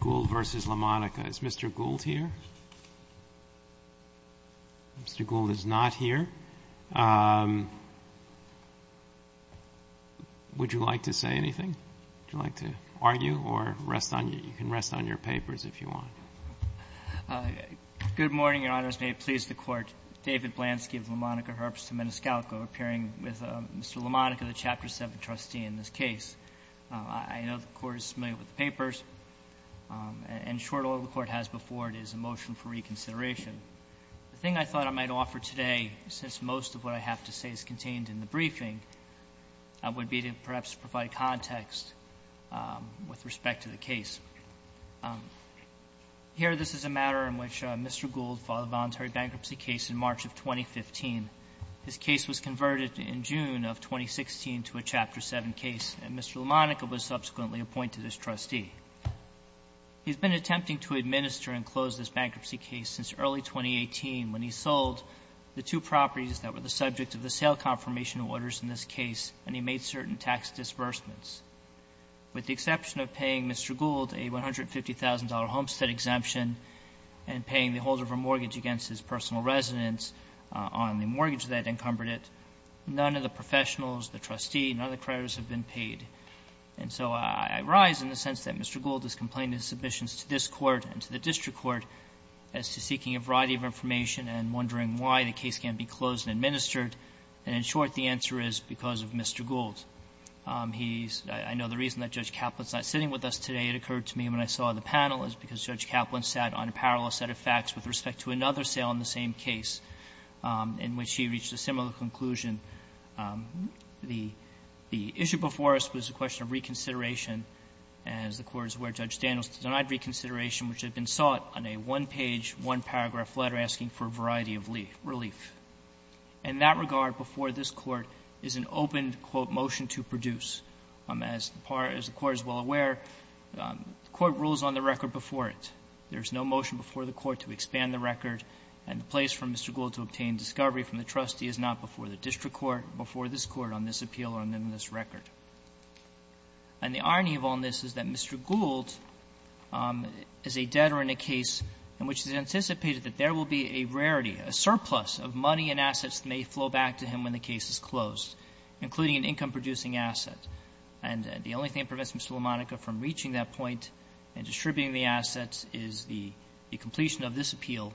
Gould v. LaMonica. Is Mr. Gould here? Mr. Gould is not here. Would you like to say anything? Would you like to argue? Or you can rest on your papers if you want. Good morning, Your Honors. May it please the Court. David Blansky of LaMonica Herbst to Meniscalco, appearing with Mr. LaMonica, the Chapter 7 trustee in this case. I know the Court is familiar with the papers. And short order the Court has before it is a motion for reconsideration. The thing I thought I might offer today, since most of what I have to say is contained in the briefing, would be to perhaps provide context with respect to the case. Here, this is a matter in which Mr. Gould filed a voluntary bankruptcy case in March of 2015. His case was converted in June of 2016 to a Chapter 7 case, and Mr. LaMonica was subsequently appointed as trustee. He has been attempting to administer and close this bankruptcy case since early 2018, when he sold the two properties that were the subject of the sale confirmation orders in this case, and he made certain tax disbursements. With the exception of paying Mr. Gould a $150,000 homestead exemption and paying the holder of a mortgage against his personal residence on the mortgage that encumbered it, none of the professionals, the trustee, none of the creditors have been paid. And so I rise in the sense that Mr. Gould has complained in his submissions to this Court and to the district court as to seeking a variety of information and wondering why the case can't be closed and administered. And in short, the answer is because of Mr. Gould. He's — I know the reason that Judge Kaplan's not sitting with us today. It occurred to me when I saw the panel is because Judge Kaplan sat on a parallel set of facts with respect to another sale in the same case in which he reached a similar conclusion. The issue before us was a question of reconsideration, and as the Court is aware, Judge Daniels denied reconsideration which had been sought on a one-page, one-paragraph letter asking for a variety of relief. In that regard, before this Court is an open, quote, motion to produce. As the Court is well aware, the Court rules on the record before it. There's no motion before the Court to expand the record, and the place for Mr. Gould to obtain discovery from the trustee is not before the district court, before this Court on this appeal or on this record. And the irony of all this is that Mr. Gould is a debtor in a case in which it is anticipated that there will be a rarity, a surplus of money and assets that may flow back to him when the case is closed, including an income-producing asset. And the only thing that prevents Mr. Lamonica from reaching that point and distributing the assets is the completion of this appeal,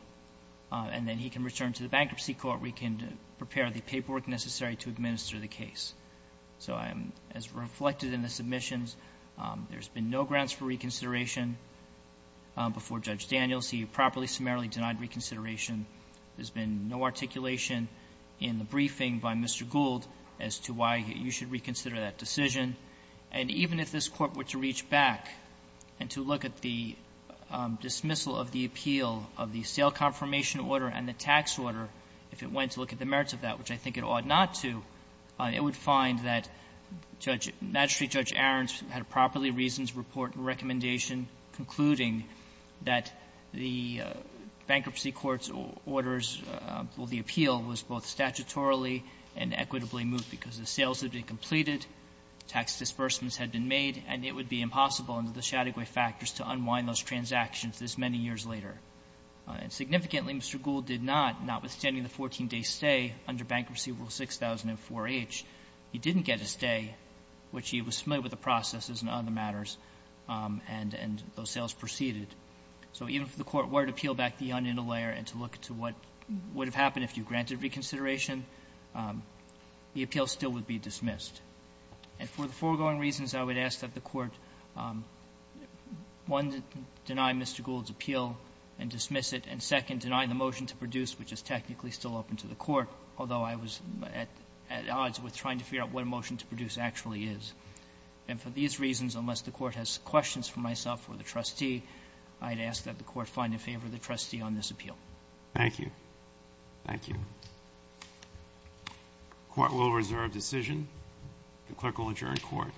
and then he can return to the bankruptcy court where he can prepare the paperwork necessary to administer the case. So I'm — as reflected in the submissions, there's been no grounds for reconsideration before Judge Daniels. He properly, summarily denied reconsideration. There's been no articulation in the briefing by Mr. Gould as to why you should reconsider that decision. And even if this Court were to reach back and to look at the dismissal of the appeal of the sale confirmation order and the tax order, if it went to look at the merits of that, which I think it ought not to, it would find that Judge — Magistrate Judge Ahrens had a properly reasoned report and recommendation concluding that the bankruptcy court's orders — well, the appeal was both statutorily and equitably moved because the sales had been completed, tax disbursements had been made, and it would be impossible under the Chattagoy factors to unwind those transactions this many years later. And significantly, Mr. Gould did not, not withstanding the 14-day stay under Bankruptcy Rule 6004H. He didn't get a stay, which he was familiar with the processes and other matters, and those sales proceeded. So even if the Court were to peel back the onion a layer and to look to what would have happened if you granted reconsideration, the appeal still would be dismissed. And for the foregoing reasons, I would ask that the Court, one, deny Mr. Gould's appeal and dismiss it, and, second, deny the motion to produce, which is technically still open to the Court, although I was at odds with trying to figure out what a motion to produce actually is. And for these reasons, unless the Court has questions for myself or the trustee, I'd ask that the Court find in favor of the trustee on this appeal. Thank you. Thank you. Court will reserve decision. The clerk will adjourn court.